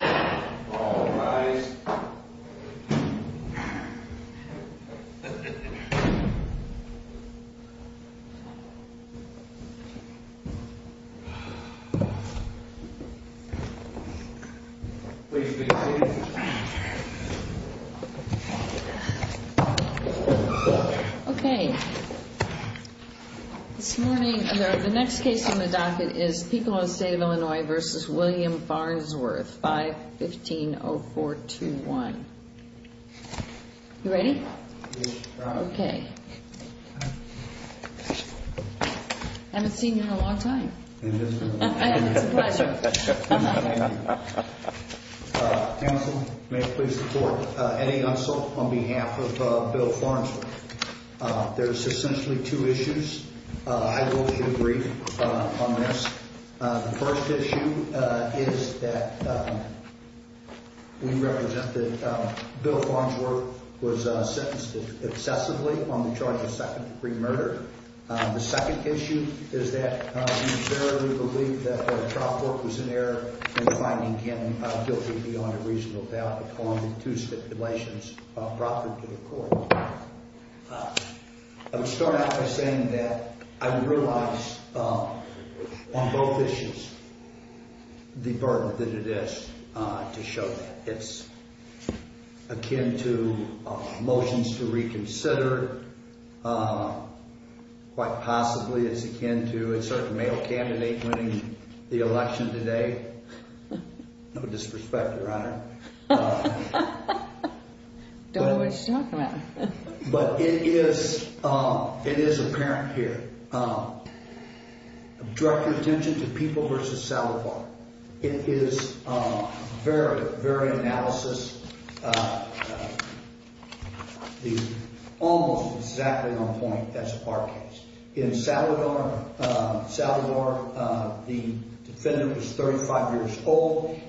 All rise. Please be seated. Okay. This morning, the next case on the docket is Picole in the State of Illinois v. William Farnsworth, 5-15-0421. You ready? Okay. I haven't seen you in a long time. It's a pleasure. Counsel, may I please report? Eddie Unsel on behalf of Bill Farnsworth. There's essentially two issues. I will give a brief on this. The first issue is that we represent that Bill Farnsworth was sentenced excessively on the charge of second-degree murder. The second issue is that we fairly believe that the trial court was in error in finding him guilty beyond a reasonable doubt. I would start out by saying that I realize on both issues the burden that it is to show that it's akin to motions to reconsider, quite possibly it's akin to a certain male candidate winning the election today. No disrespect, Your Honor.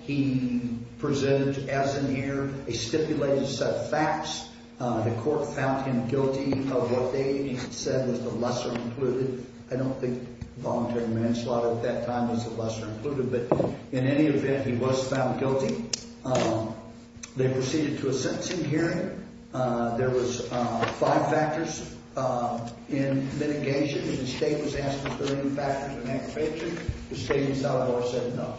He presented as in error a stipulated set of facts. The court found him guilty of what they said was the lesser included. I don't think voluntary manslaughter at that time was the lesser included, but in any event, he was found guilty. They proceeded to a sentencing hearing. There was five factors in litigation. The state was asked if there were any factors in aggravation. The state and the South Door said no.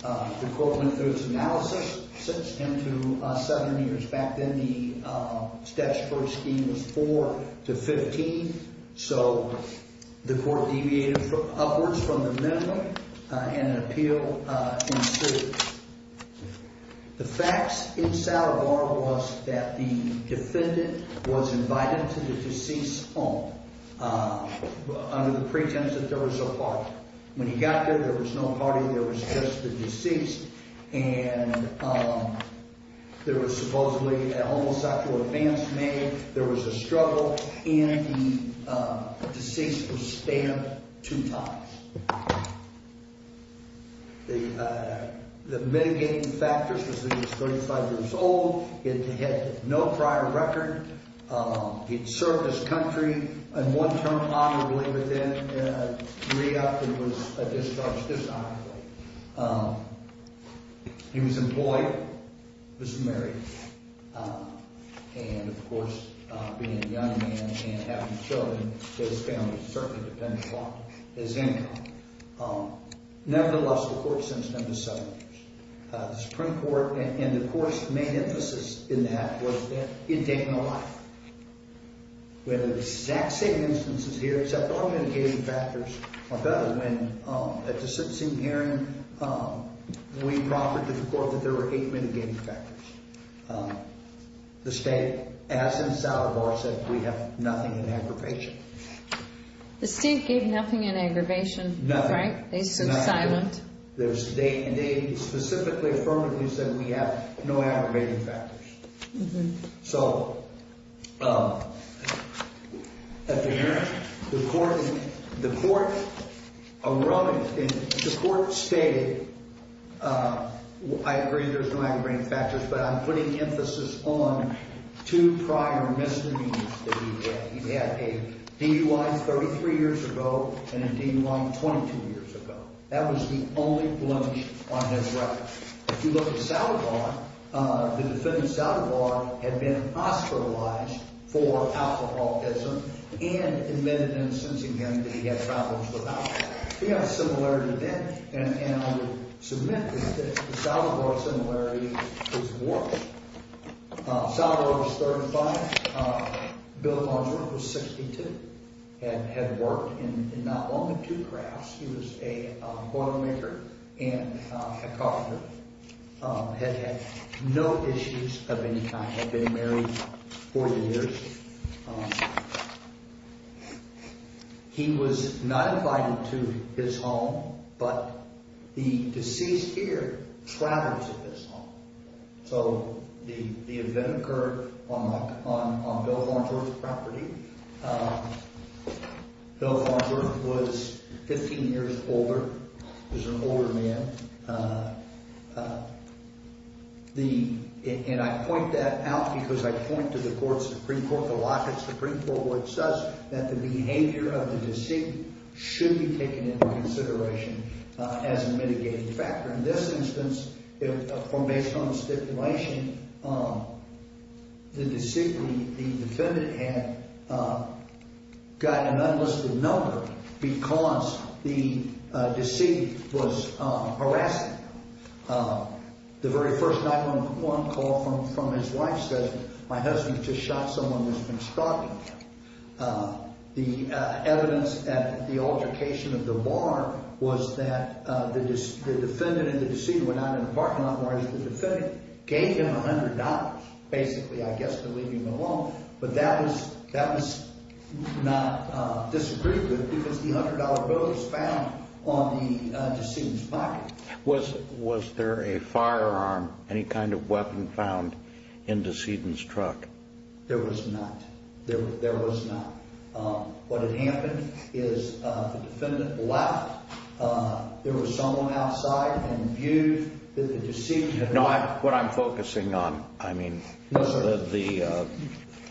The court went through its analysis. Back then, the steps for a scheme was four to 15, so the court deviated upwards from the minimum and an appeal ensued. The facts in South Door was that the defendant was invited to the deceased's home under the pretense that there was a party. When he got there, there was no party. There was just the deceased, and there was supposedly a homicidal advance made. There was a struggle, and the deceased was stabbed two times. The mitigating factors was that he was 35 years old. He had no prior record. He had served his country in one term honorably, but then in a three-hour period he was discharged dishonorably. He was employed, was married, and, of course, being a young man and having children, his family certainly depended on his income. Nevertheless, the court sentenced him to seven years. The Supreme Court and the court's main emphasis in that was that he had taken a life. We have the exact same instances here except all mitigating factors are better. At the sentencing hearing, we proffered to the court that there were eight mitigating factors. The state, as in South Door, said we have nothing in aggravation. The state gave nothing in aggravation. Nothing. They stood silent. And they specifically affirmed it. They said we have no aggravating factors. So, at the hearing, the court stated, I agree there's no aggravating factors, but I'm putting emphasis on two prior misdemeanors that he had. He had a DUI 33 years ago and a DUI 22 years ago. That was the only blunch on his record. If you look at South Door, the defendant, South Door, had been hospitalized for alcoholism and admitted in a sentencing hearing that he had problems with alcohol. He had a similarity then, and I would submit that the South Door similarity is worse. South Door was 35. Bill Muldren was 62 and had worked in not only two crafts. He was a automaker and a carpenter. Had had no issues of any kind. Had been married 40 years. He was not invited to his home, but the deceased here traveled to his home. So, the event occurred on Bill Longworth's property. Bill Longworth was 15 years older. He was an older man. And I point that out because I point to the Supreme Court. The Lockett Supreme Court would assess that the behavior of the deceased should be taken into consideration as a mitigating factor. In this instance, based on the stipulation, the defendant had got an unlisted number because the deceased was harassed. The very first 911 call from his wife says, my husband just shot someone who's been stalking him. The evidence at the altercation of the bar was that the defendant and the deceased were not in the parking lot, whereas the defendant gave him $100. Basically, I guess, to leave him alone. But that was not disagreed with because the $100 bill was found on the deceased's pocket. Was there a firearm, any kind of weapon found in the deceased's truck? There was not. There was not. What had happened is the defendant left. There was someone outside and viewed the deceased. No, what I'm focusing on, I mean, the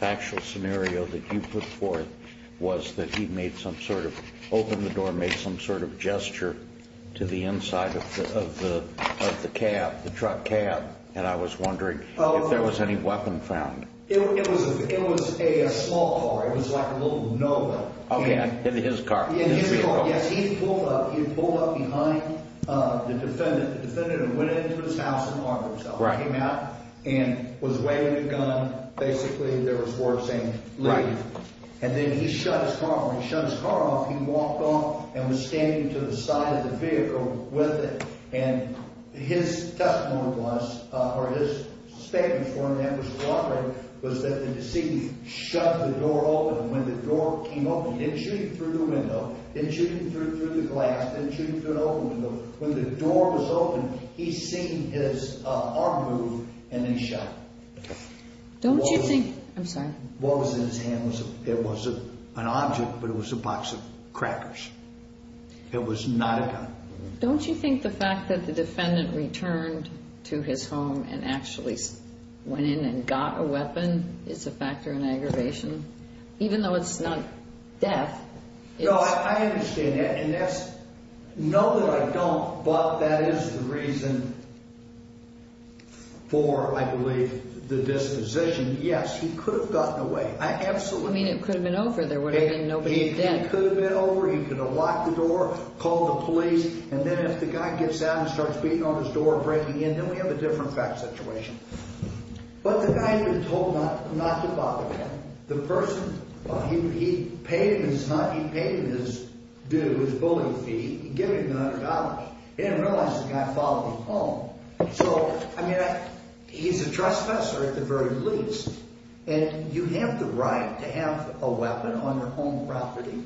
actual scenario that you put forth was that he made some sort of, opened the door and made some sort of gesture to the inside of the cab, the truck cab. And I was wondering if there was any weapon found. It was a small car. It was like a little Nova. Okay, his car. His vehicle. Yes, he pulled up. He had pulled up behind the defendant. The defendant went into his house and harmed himself. Came out and was waving a gun. Basically, there was words saying, leave. And then he shut his car off. When he shut his car off, he walked off and was standing to the side of the vehicle with it. And his testimony was, or his statement was that the deceased shut the door open. And when the door came open, he didn't shoot him through the window, didn't shoot him through the glass, didn't shoot him through an open window. When the door was open, he seen his arm move and then shot him. Don't you think, I'm sorry. What was in his hand, it was an object, but it was a box of crackers. It was not a gun. Don't you think the fact that the defendant returned to his home and actually went in and got a weapon is a factor in aggravation? Even though it's not death. No, I understand that. And that's, know that I don't, but that is the reason for, I believe, the disposition. Yes, he could have gotten away. Absolutely. I mean, it could have been over. There would have been nobody dead. He could have locked the door, called the police, and then if the guy gets out and starts beating on his door and breaking in, then we have a different fact situation. But the guy had been told not to bother him. The person, he paid him his, he paid him his due, his bullying fee. He gave him $100. He didn't realize the guy followed him home. So, I mean, he's a trespasser at the very least. And you have the right to have a weapon on your home property.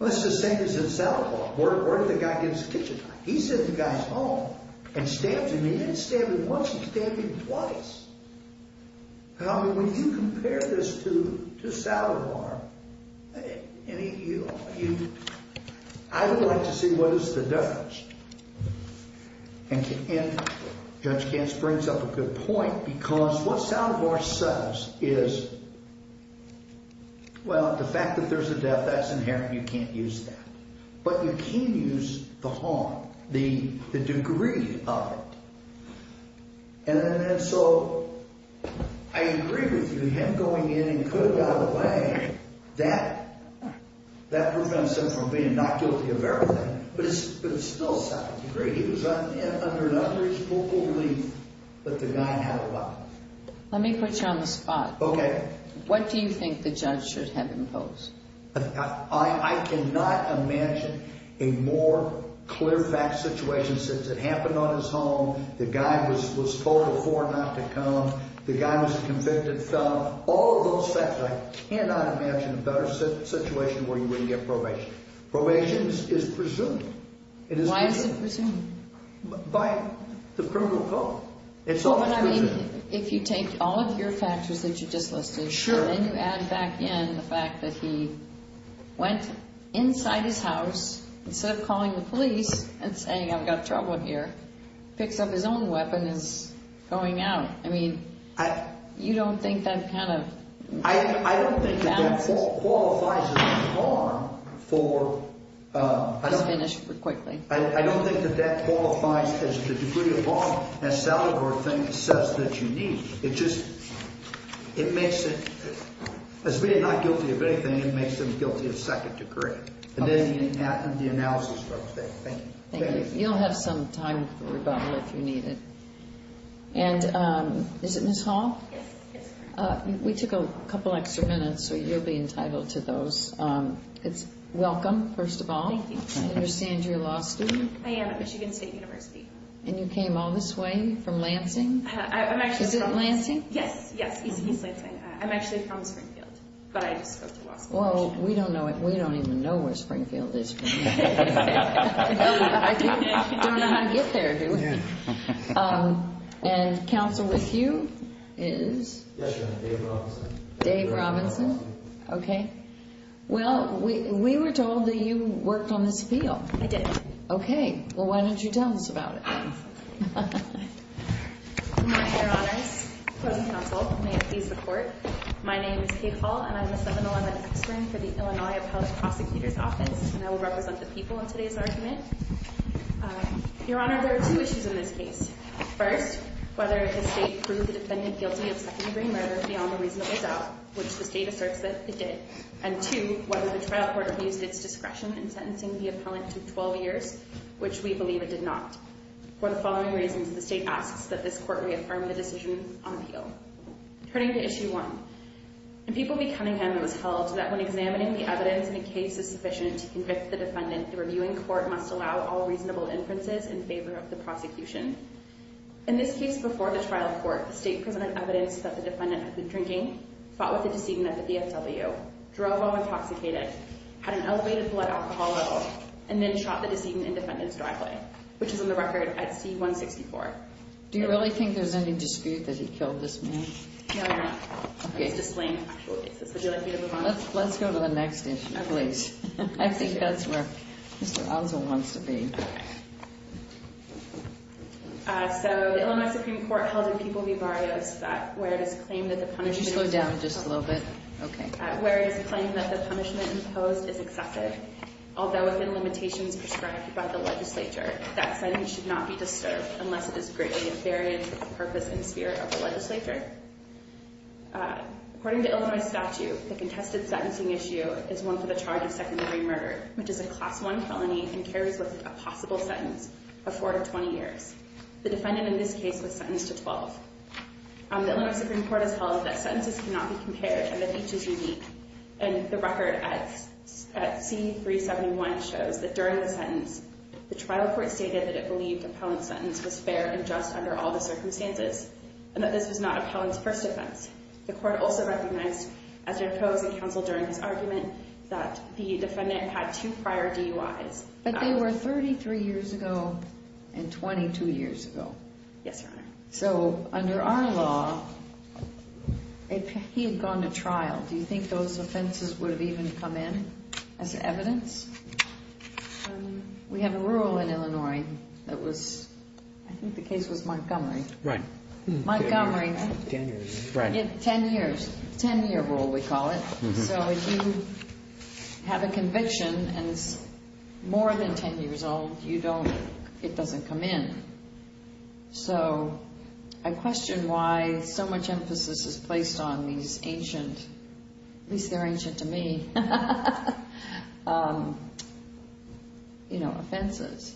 Let's just say he's in Saddlebar. Where did the guy get his kitchen knife? He's in the guy's home and stabs him. He didn't stab him once. He stabbed him twice. I mean, when you compare this to Saddlebar, I would like to see what is the difference. And Judge Gantz brings up a good point because what Saddlebar says is, well, the fact that there's a death, that's inherent. You can't use that. But you can use the harm, the degree of it. And so, I agree with you. Him going in and putting out a bang, that prevents him from being not guilty of everything. But it's still second degree. He was under his full belief that the guy had a weapon. Let me put you on the spot. Okay. What do you think the judge should have imposed? I cannot imagine a more clear fact situation since it happened on his home. The guy was told before not to come. The guy was a convicted felon. All of those facts, I cannot imagine a better situation where you wouldn't get probation. Probation is presumed. Why is it presumed? By the criminal code. If you take all of your factors that you just listed, then you add back in the fact that he went inside his house, instead of calling the police and saying, I've got trouble here. Picks up his own weapon and is going out. I mean, you don't think that kind of balances? I don't think that qualifies as harm for... Let's finish quickly. I don't think that that qualifies as the degree of harm as Salvador says that you need. It just, it makes it, as being not guilty of anything, it makes him guilty of second degree. And then you have the analysis. Thank you. Thank you. You'll have some time for rebuttal if you need it. And is it Ms. Hall? Yes. We took a couple extra minutes, so you'll be entitled to those. Welcome, first of all. Thank you. I understand you're a law student? I am at Michigan State University. And you came all this way from Lansing? I'm actually from... Is it Lansing? Yes, yes. East Lansing. I'm actually from Springfield, but I just go through law school. Well, we don't even know where Springfield is. I don't know how to get there, do we? And counsel with you is? Yes, Your Honor. Dave Robinson. Dave Robinson. Okay. Well, we were told that you worked on this appeal. I did. Okay. Well, why don't you tell us about it? Your Honors, present counsel, may it please the Court. My name is Kate Hall, and I'm the 7-Eleven custodian for the Illinois appellate prosecutor's office, and I will represent the people in today's argument. Your Honor, there are two issues in this case. First, whether the state proved the defendant guilty of second-degree murder beyond a reasonable doubt, which the state asserts that it did, and two, whether the trial court abused its discretion in sentencing the appellant to 12 years, which we believe it did not. For the following reasons, the state asks that this court reaffirm the decision on appeal. Turning to issue one, in People v. Cunningham, it was held that when examining the evidence and a case is sufficient to convict the defendant, the reviewing court must allow all reasonable inferences in favor of the prosecution. In this case, before the trial court, the state presented evidence that the defendant had been drinking, fought with a decedent at the DFW, drove while intoxicated, had an elevated blood alcohol level, and then shot the decedent in defendant's driveway, which is on the record at C-164. Do you really think there's any dispute that he killed this man? No, Your Honor. Okay. It's displaying accolades. Would you like me to move on? Let's go to the next issue, please. I think that's where Mr. Ozzle wants to be. So, the Illinois Supreme Court held in People v. Barrios that where it is claimed that the punishment Can you slow down just a little bit? Okay. Where it is claimed that the punishment imposed is excessive, although within limitations prescribed by the legislature, that sentence should not be disturbed unless it is greatly in variance with the purpose and spirit of the legislature. According to Illinois statute, the contested sentencing issue is one for the charge of secondary murder, which is a Class I felony and carries with it a possible sentence of 4 to 20 years. The defendant in this case was sentenced to 12. The Illinois Supreme Court has held that sentences cannot be compared and that each is unique. And the record at C-371 shows that during the sentence, the trial court stated that it believed the appellant's sentence was fair and just under all the circumstances and that this was not appellant's first offense. The court also recognized, as it proposed in counsel during his argument, that the defendant had two prior DUIs. But they were 33 years ago and 22 years ago. Yes, Your Honor. So, under our law, if he had gone to trial, do you think those offenses would have even come in as evidence? We have a rule in Illinois that was, I think the case was Montgomery. Right. Montgomery. Ten years. Ten years. Ten-year rule, we call it. So, if you have a conviction and it's more than 10 years old, you don't, it doesn't come in. So, I question why so much emphasis is placed on these ancient, at least they're ancient to me, you know, offenses.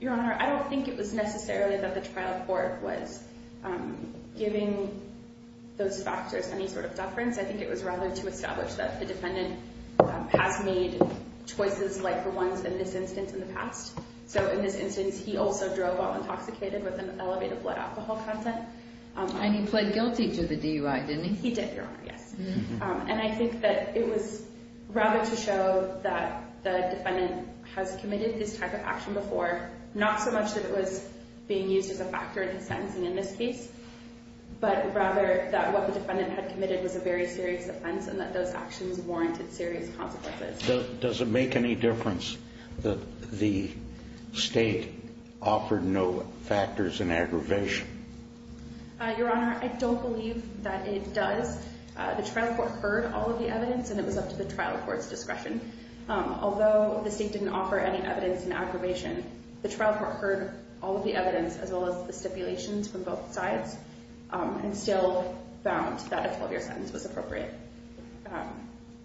Your Honor, I don't think it was necessarily that the trial court was giving those factors any sort of deference. I think it was rather to establish that the defendant has made choices like the ones in this instance in the past. So, in this instance, he also drove while intoxicated with an elevated blood alcohol content. And he pled guilty to the DUI, didn't he? He did, Your Honor, yes. And I think that it was rather to show that the defendant has committed this type of action before, not so much that it was being used as a factor in his sentencing in this case, but rather that what the defendant had committed was a very serious offense and that those actions warranted serious consequences. Does it make any difference that the State offered no factors in aggravation? Your Honor, I don't believe that it does. The trial court heard all of the evidence, and it was up to the trial court's discretion. Although the State didn't offer any evidence in aggravation, the trial court heard all of the evidence as well as the stipulations from both sides and still found that a 12-year sentence was appropriate.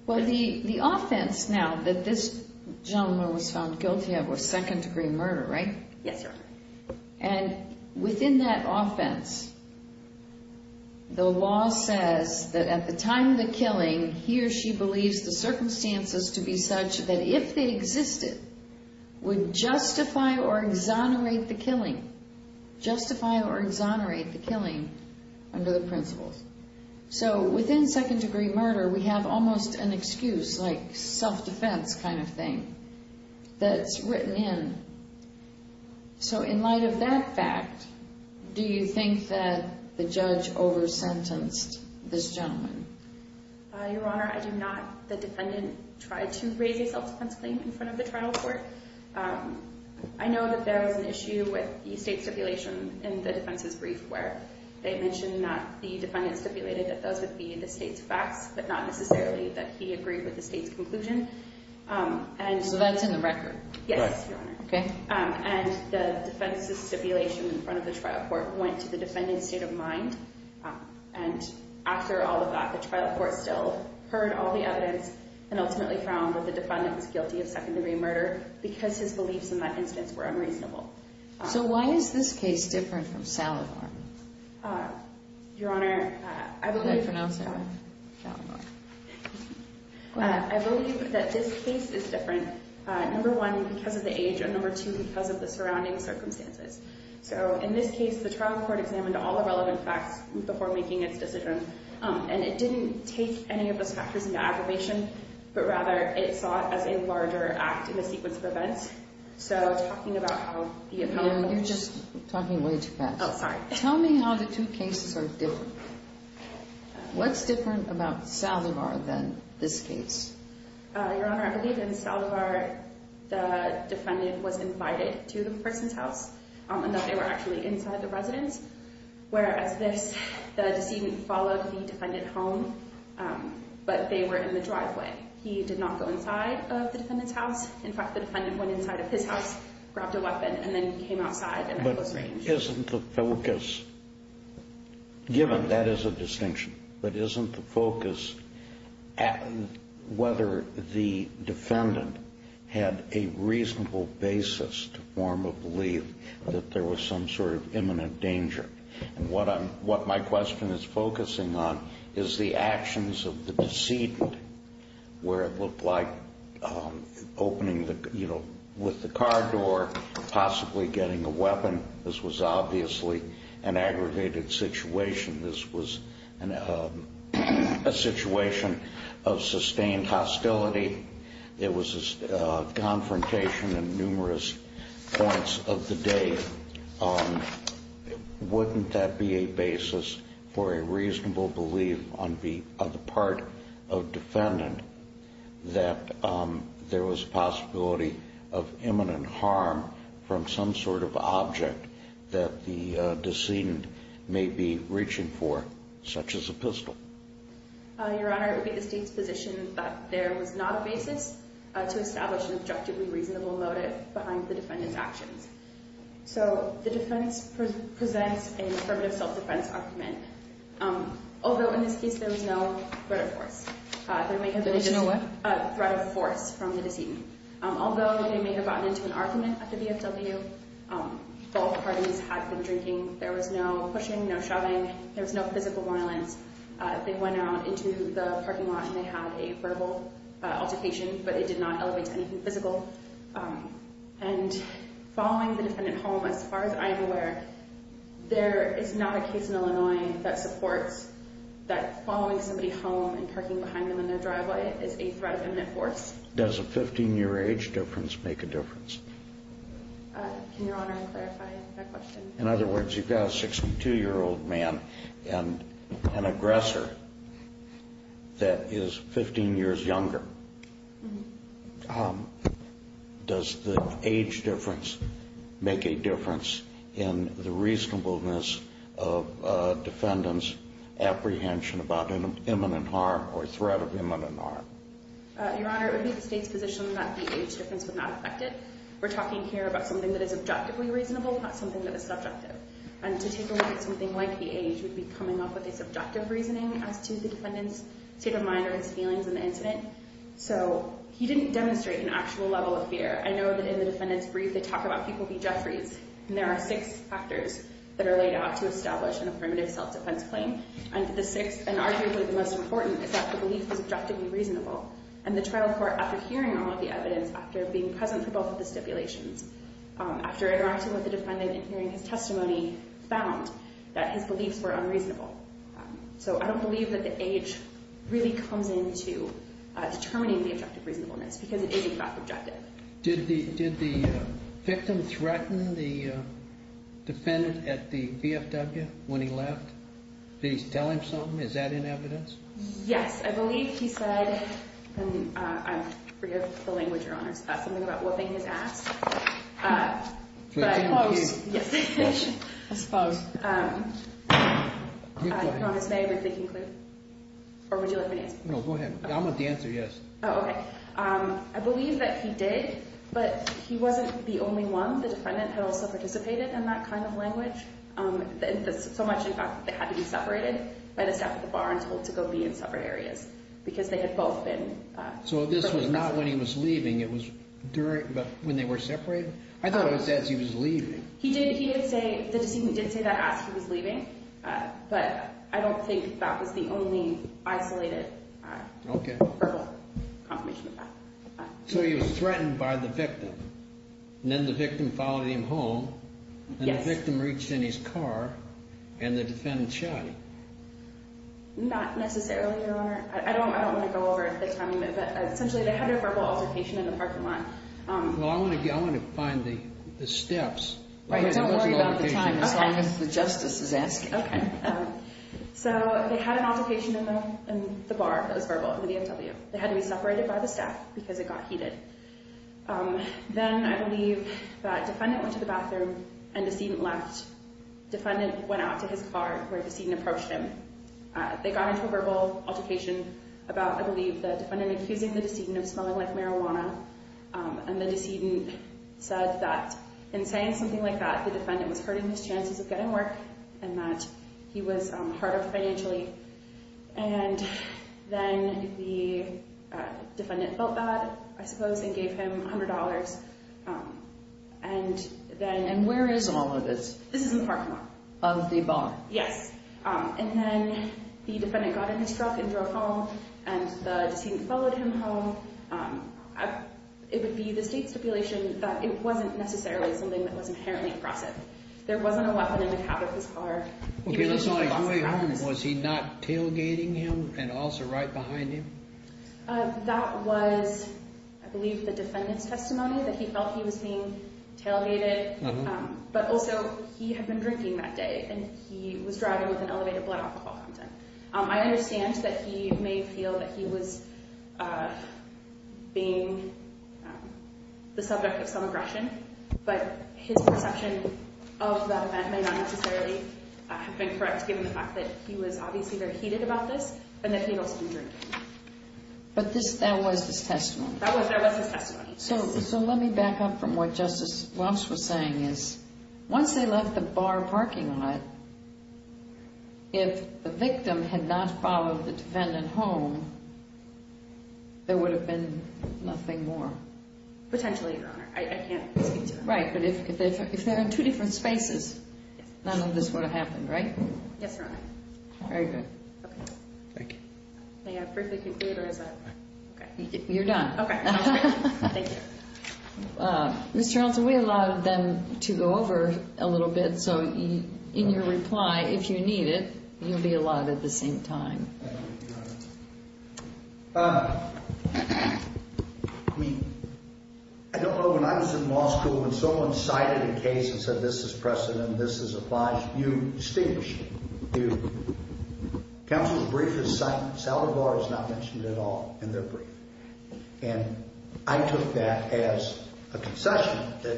Well, the offense now that this gentleman was found guilty of was second-degree murder, right? Yes, Your Honor. And within that offense, the law says that at the time of the killing, he or she believes the circumstances to be such that if they existed, would justify or exonerate the killing, justify or exonerate the killing under the principles. So within second-degree murder, we have almost an excuse, like self-defense kind of thing that's written in. So in light of that fact, do you think that the judge over-sentenced this gentleman? Your Honor, I do not. The defendant tried to raise a self-defense claim in front of the trial court. I know that there was an issue with the State stipulation in the defense's brief where they mentioned that the defendant stipulated that those would be the State's facts, but not necessarily that he agreed with the State's conclusion. So that's in the record? Yes, Your Honor. Okay. And the defense's stipulation in front of the trial court went to the defendant's state of mind. And after all of that, the trial court still heard all the evidence and ultimately found that the defendant was guilty of second-degree murder because his beliefs in that instance were unreasonable. So why is this case different from Salivar? Your Honor, I believe... How would I pronounce it? Salivar. Go ahead. I believe that this case is different. Number one, because of the age. And number two, because of the surrounding circumstances. So in this case, the trial court examined all the relevant facts before making its decision. And it didn't take any of those factors into aggravation, but rather it saw it as a larger act in the sequence of events. So talking about how the appellant... You're just talking way too fast. Oh, sorry. Tell me how the two cases are different. What's different about Salivar than this case? Your Honor, I believe in Salivar, the defendant was invited to the person's house and that they were actually inside the residence, whereas this, the decedent followed the defendant home, but they were in the driveway. He did not go inside of the defendant's house. In fact, the defendant went inside of his house, grabbed a weapon, and then came outside and... But isn't the focus... Given, that is a distinction. But isn't the focus whether the defendant had a reasonable basis to form a belief that there was some sort of imminent danger? And what my question is focusing on is the actions of the decedent, where it looked like opening, you know, with the car door, possibly getting a weapon. This was obviously an aggravated situation. This was a situation of sustained hostility. It was a confrontation in numerous points of the day. Wouldn't that be a basis for a reasonable belief on the part of defendant that there was a possibility of imminent harm from some sort of object that the decedent may be reaching for, such as a pistol? Your Honor, it would be the State's position that there was not a basis to establish an objectively reasonable motive behind the defendant's actions. So the defense presents an affirmative self-defense argument, although in this case there was no threat of force. There may have been a threat of force from the decedent, although they may have gotten into an argument at the VFW where both parties had been drinking. There was no pushing, no shoving. There was no physical violence. They went out into the parking lot and they had a verbal altercation, but they did not elevate to anything physical. And following the defendant home, as far as I am aware, there is not a case in Illinois that supports that following somebody home and parking behind them in their driveway is a threat of imminent force. Does a 15-year age difference make a difference? Can Your Honor clarify that question? In other words, you've got a 62-year-old man and an aggressor that is 15 years younger. Does the age difference make a difference in the reasonableness of a defendant's apprehension about an imminent harm or threat of imminent harm? Your Honor, it would be the State's position that the age difference would not affect it. We're talking here about something that is objectively reasonable, not something that is subjective. And to take away that something like the age would be coming up with a subjective reasoning as to the defendant's state of mind or his feelings in the incident. So he didn't demonstrate an actual level of fear. I know that in the defendant's brief, they talk about people being Jeffries, and there are six factors that are laid out to establish a primitive self-defense claim. And arguably the most important is that the belief was objectively reasonable. And the trial court, after hearing all of the evidence, after being present for both of the stipulations, after interacting with the defendant and hearing his testimony, found that his beliefs were unreasonable. So I don't believe that the age really comes into determining the objective reasonableness because it isn't objective. Did the victim threaten the defendant at the VFW when he left? Did he tell him something? Is that in evidence? Yes, I believe he said, and I forgive the language, Your Honor, something about whooping his ass. Close. Yes. I suppose. Your Honor, may I read the conclusion? Or would you like me to answer? No, go ahead. I want the answer, yes. Oh, okay. I believe that he did, but he wasn't the only one. The defendant had also participated in that kind of language, so much in fact that they had to be separated by the staff at the bar and told to go be in separate areas because they had both been. So this was not when he was leaving, it was during, but when they were separated? I thought it was as he was leaving. He did, he did say, the deceitful did say that as he was leaving, but I don't think that was the only isolated verbal confirmation of that. So he was threatened by the victim, and then the victim followed him home, and the victim reached in his car, and the defendant shot him? Not necessarily, Your Honor. I don't want to go over the timing, but essentially they had a verbal altercation in the parking lot. Well, I want to find the steps. Don't worry about the time, as long as the justice is asking. Okay. So they had an altercation in the bar, that was verbal, in the BMW. They had to be separated by the staff because it got heated. Then I believe that defendant went to the bathroom and decedent left. Defendant went out to his car where decedent approached him. They got into a verbal altercation about, I believe, the defendant accusing the decedent of smelling like marijuana. And the decedent said that in saying something like that, the defendant was hurting his chances of getting work, and that he was hard up financially. And then the defendant felt bad, I suppose, and gave him $100. And then... And where is all of this? This is in the parking lot. Of the bar? Yes. And then the defendant got in his truck and drove home, and the decedent followed him home. It would be the state stipulation that it wasn't necessarily something that was inherently aggressive. There wasn't a weapon in the cab of his car. Okay, that's not like going home. Was he not tailgating him and also right behind him? That was, I believe, the defendant's testimony that he felt he was being tailgated. But also, he had been drinking that day, and he was driving with an elevated blood alcohol content. I understand that he may feel that he was being the subject of some aggression, but his perception of that event may not necessarily have been correct given the fact that he was obviously very heated about this and that he had also been drinking. But that was his testimony? That was his testimony. So let me back up from what Justice Welch was saying. Once they left the bar parking lot, if the victim had not followed the defendant home, there would have been nothing more. Potentially, Your Honor. I can't speak to that. Right, but if they were in two different spaces, none of this would have happened, right? Yes, Your Honor. Very good. Okay. Thank you. May I briefly conclude, or is that... You're done. Okay. Thank you. Mr. Arnoldson, we allowed them to go over a little bit, so in your reply, if you need it, you'll be allowed at the same time. Thank you, Your Honor. I mean, I don't know. When I was in law school, when someone cited a case and said, this is precedent, this is obliged, you distinguish. Counsel's brief is silent. Salovar is not mentioned at all in their brief. And I took that as a concession that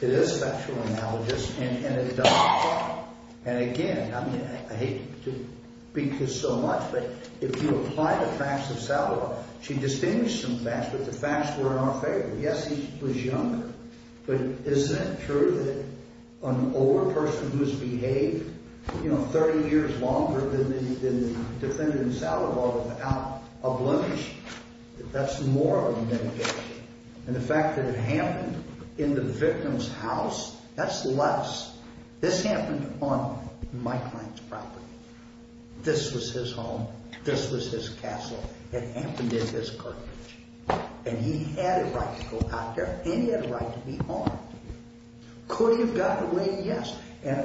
it is sexual analogous, and it does apply. And again, I hate to beat you so much, but if you apply the facts of Salovar, she distinguished some facts, but the facts were in our favor. Yes, he was younger. But isn't it true that an older person who has behaved, you know, 30 years longer than the defendant in Salovar without obligation, that's more of a mitigation. And the fact that it happened in the victim's house, that's less. This happened on my client's property. This was his home. This was his castle. It happened in his courthouse. And he had a right to go out there, and he had a right to be harmed. Could he have gotten away? Yes. And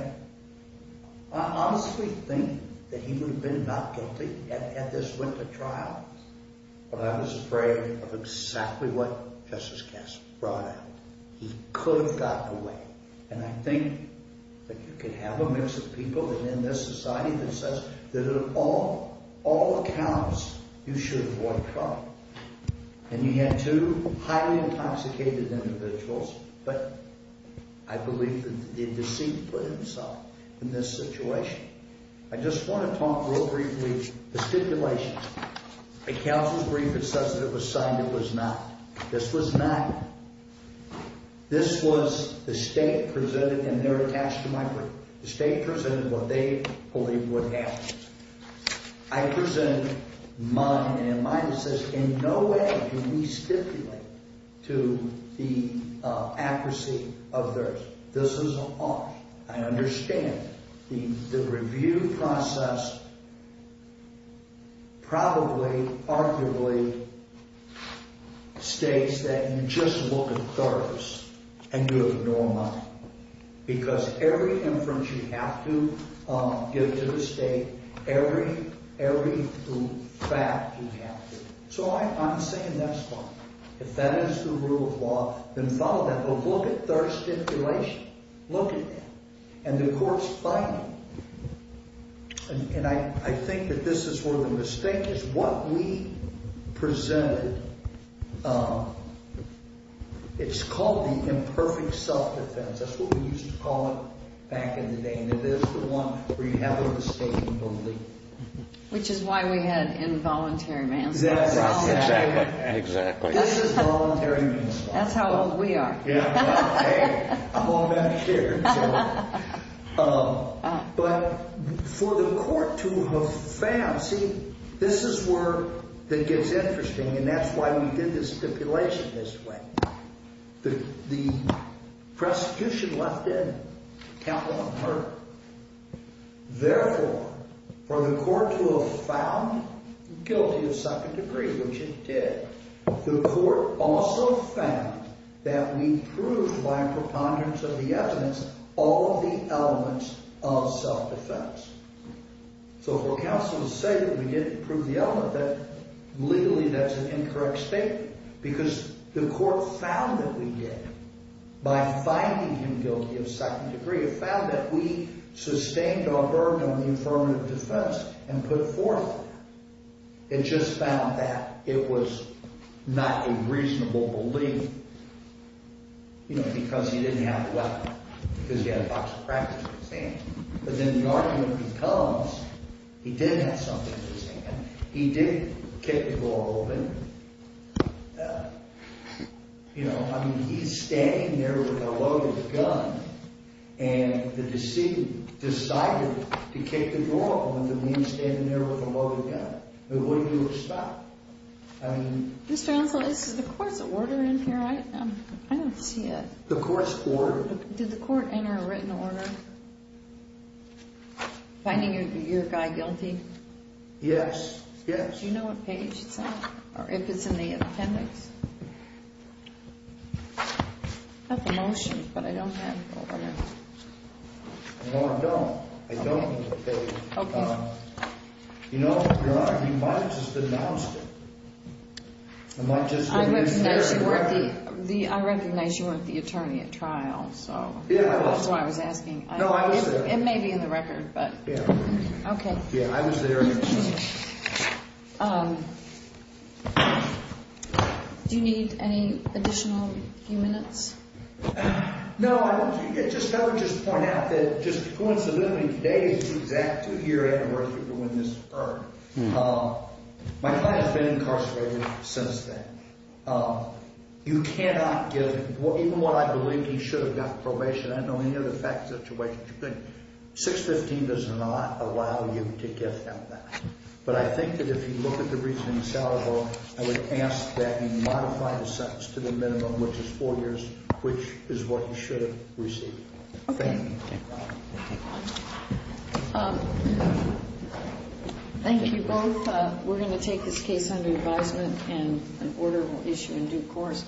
I honestly think that he would have been not guilty at this winter trial. But I was afraid of exactly what Justice Kasich brought out. He could have gotten away. And I think that you can have a mix of people in this society that says that in all accounts, you should avoid trouble. And you had two highly intoxicated individuals, but I believe that the deceit put himself in this situation. I just want to talk real briefly, the stipulations. The counsel's brief, it says that it was signed. It was not. This was not. This was the state presented, and they're attached to my brief. The state presented what they believe what happened. I presented mine, and in mine it says, in no way do we stipulate to the accuracy of theirs. This is a lie. I understand. The review process probably, arguably, states that you just look at thoroughness, and you ignore mine. Because every inference you have to give to the state, every fact you have to. So I'm saying that's wrong. If that is the rule of law, then follow that. But look at their stipulation. Look at that. And the court's fighting. And I think that this is where the mistake is. What we presented, it's called the imperfect self-defense. That's what we used to call it back in the day. And it is the one where you have a mistake in belief. Which is why we had involuntary manslaughter. Exactly. Exactly. This is voluntary manslaughter. That's how old we are. Yeah. I'm all that here. But for the court to have failed, see, this is where it gets interesting, and that's why we did the stipulation this way. The prosecution left in capital unheard. Therefore, for the court to have found guilty of second degree, which it did, the court also found that we proved, by a preponderance of the evidence, all of the elements of self-defense. So for counsel to say that we didn't prove the element, legally that's an incorrect statement. Because the court found that we did. By finding him guilty of second degree, it found that we sustained our burden on the affirmative defense and put forth that. It just found that it was not a reasonable belief. You know, because he didn't have a weapon. Because he had a box of crackers in his hand. But then the argument becomes, he did have something in his hand. He did kick the ball, didn't he? You know, I mean, he's standing there with a loaded gun, and the decedent decided to kick the ball when the man's standing there with a loaded gun. What do you expect? I mean... Mr. Hansel, is the court's order in here? I don't see it. The court's order. Did the court enter a written order? Finding your guy guilty? Yes, yes. Do you know what page it's on, or if it's in the appendix? I have the motion, but I don't have the order. No, I don't. I don't have the page. Okay. You know, Your Honor, he might have just announced it. I'm not just going to use the record. I recognize you weren't the attorney at trial. Yeah, I was. That's why I was asking. No, I was there. It may be in the record, but... Yeah. Okay. Yeah, I was there. Do you need any additional few minutes? No, I would just point out that, just coincidentally, today is the exact two-year anniversary of the witness' murder. My client has been incarcerated since then. You cannot give, even what I believe he should have got probation, I don't know any other facts to weigh. 615 does not allow you to give him that. But I think that if you look at the reason he's eligible, I would ask that you modify the sentence to the minimum, which is four years, which is what he should have received. Okay. Thank you both. We're going to take this case under advisement, and an order will issue in due course.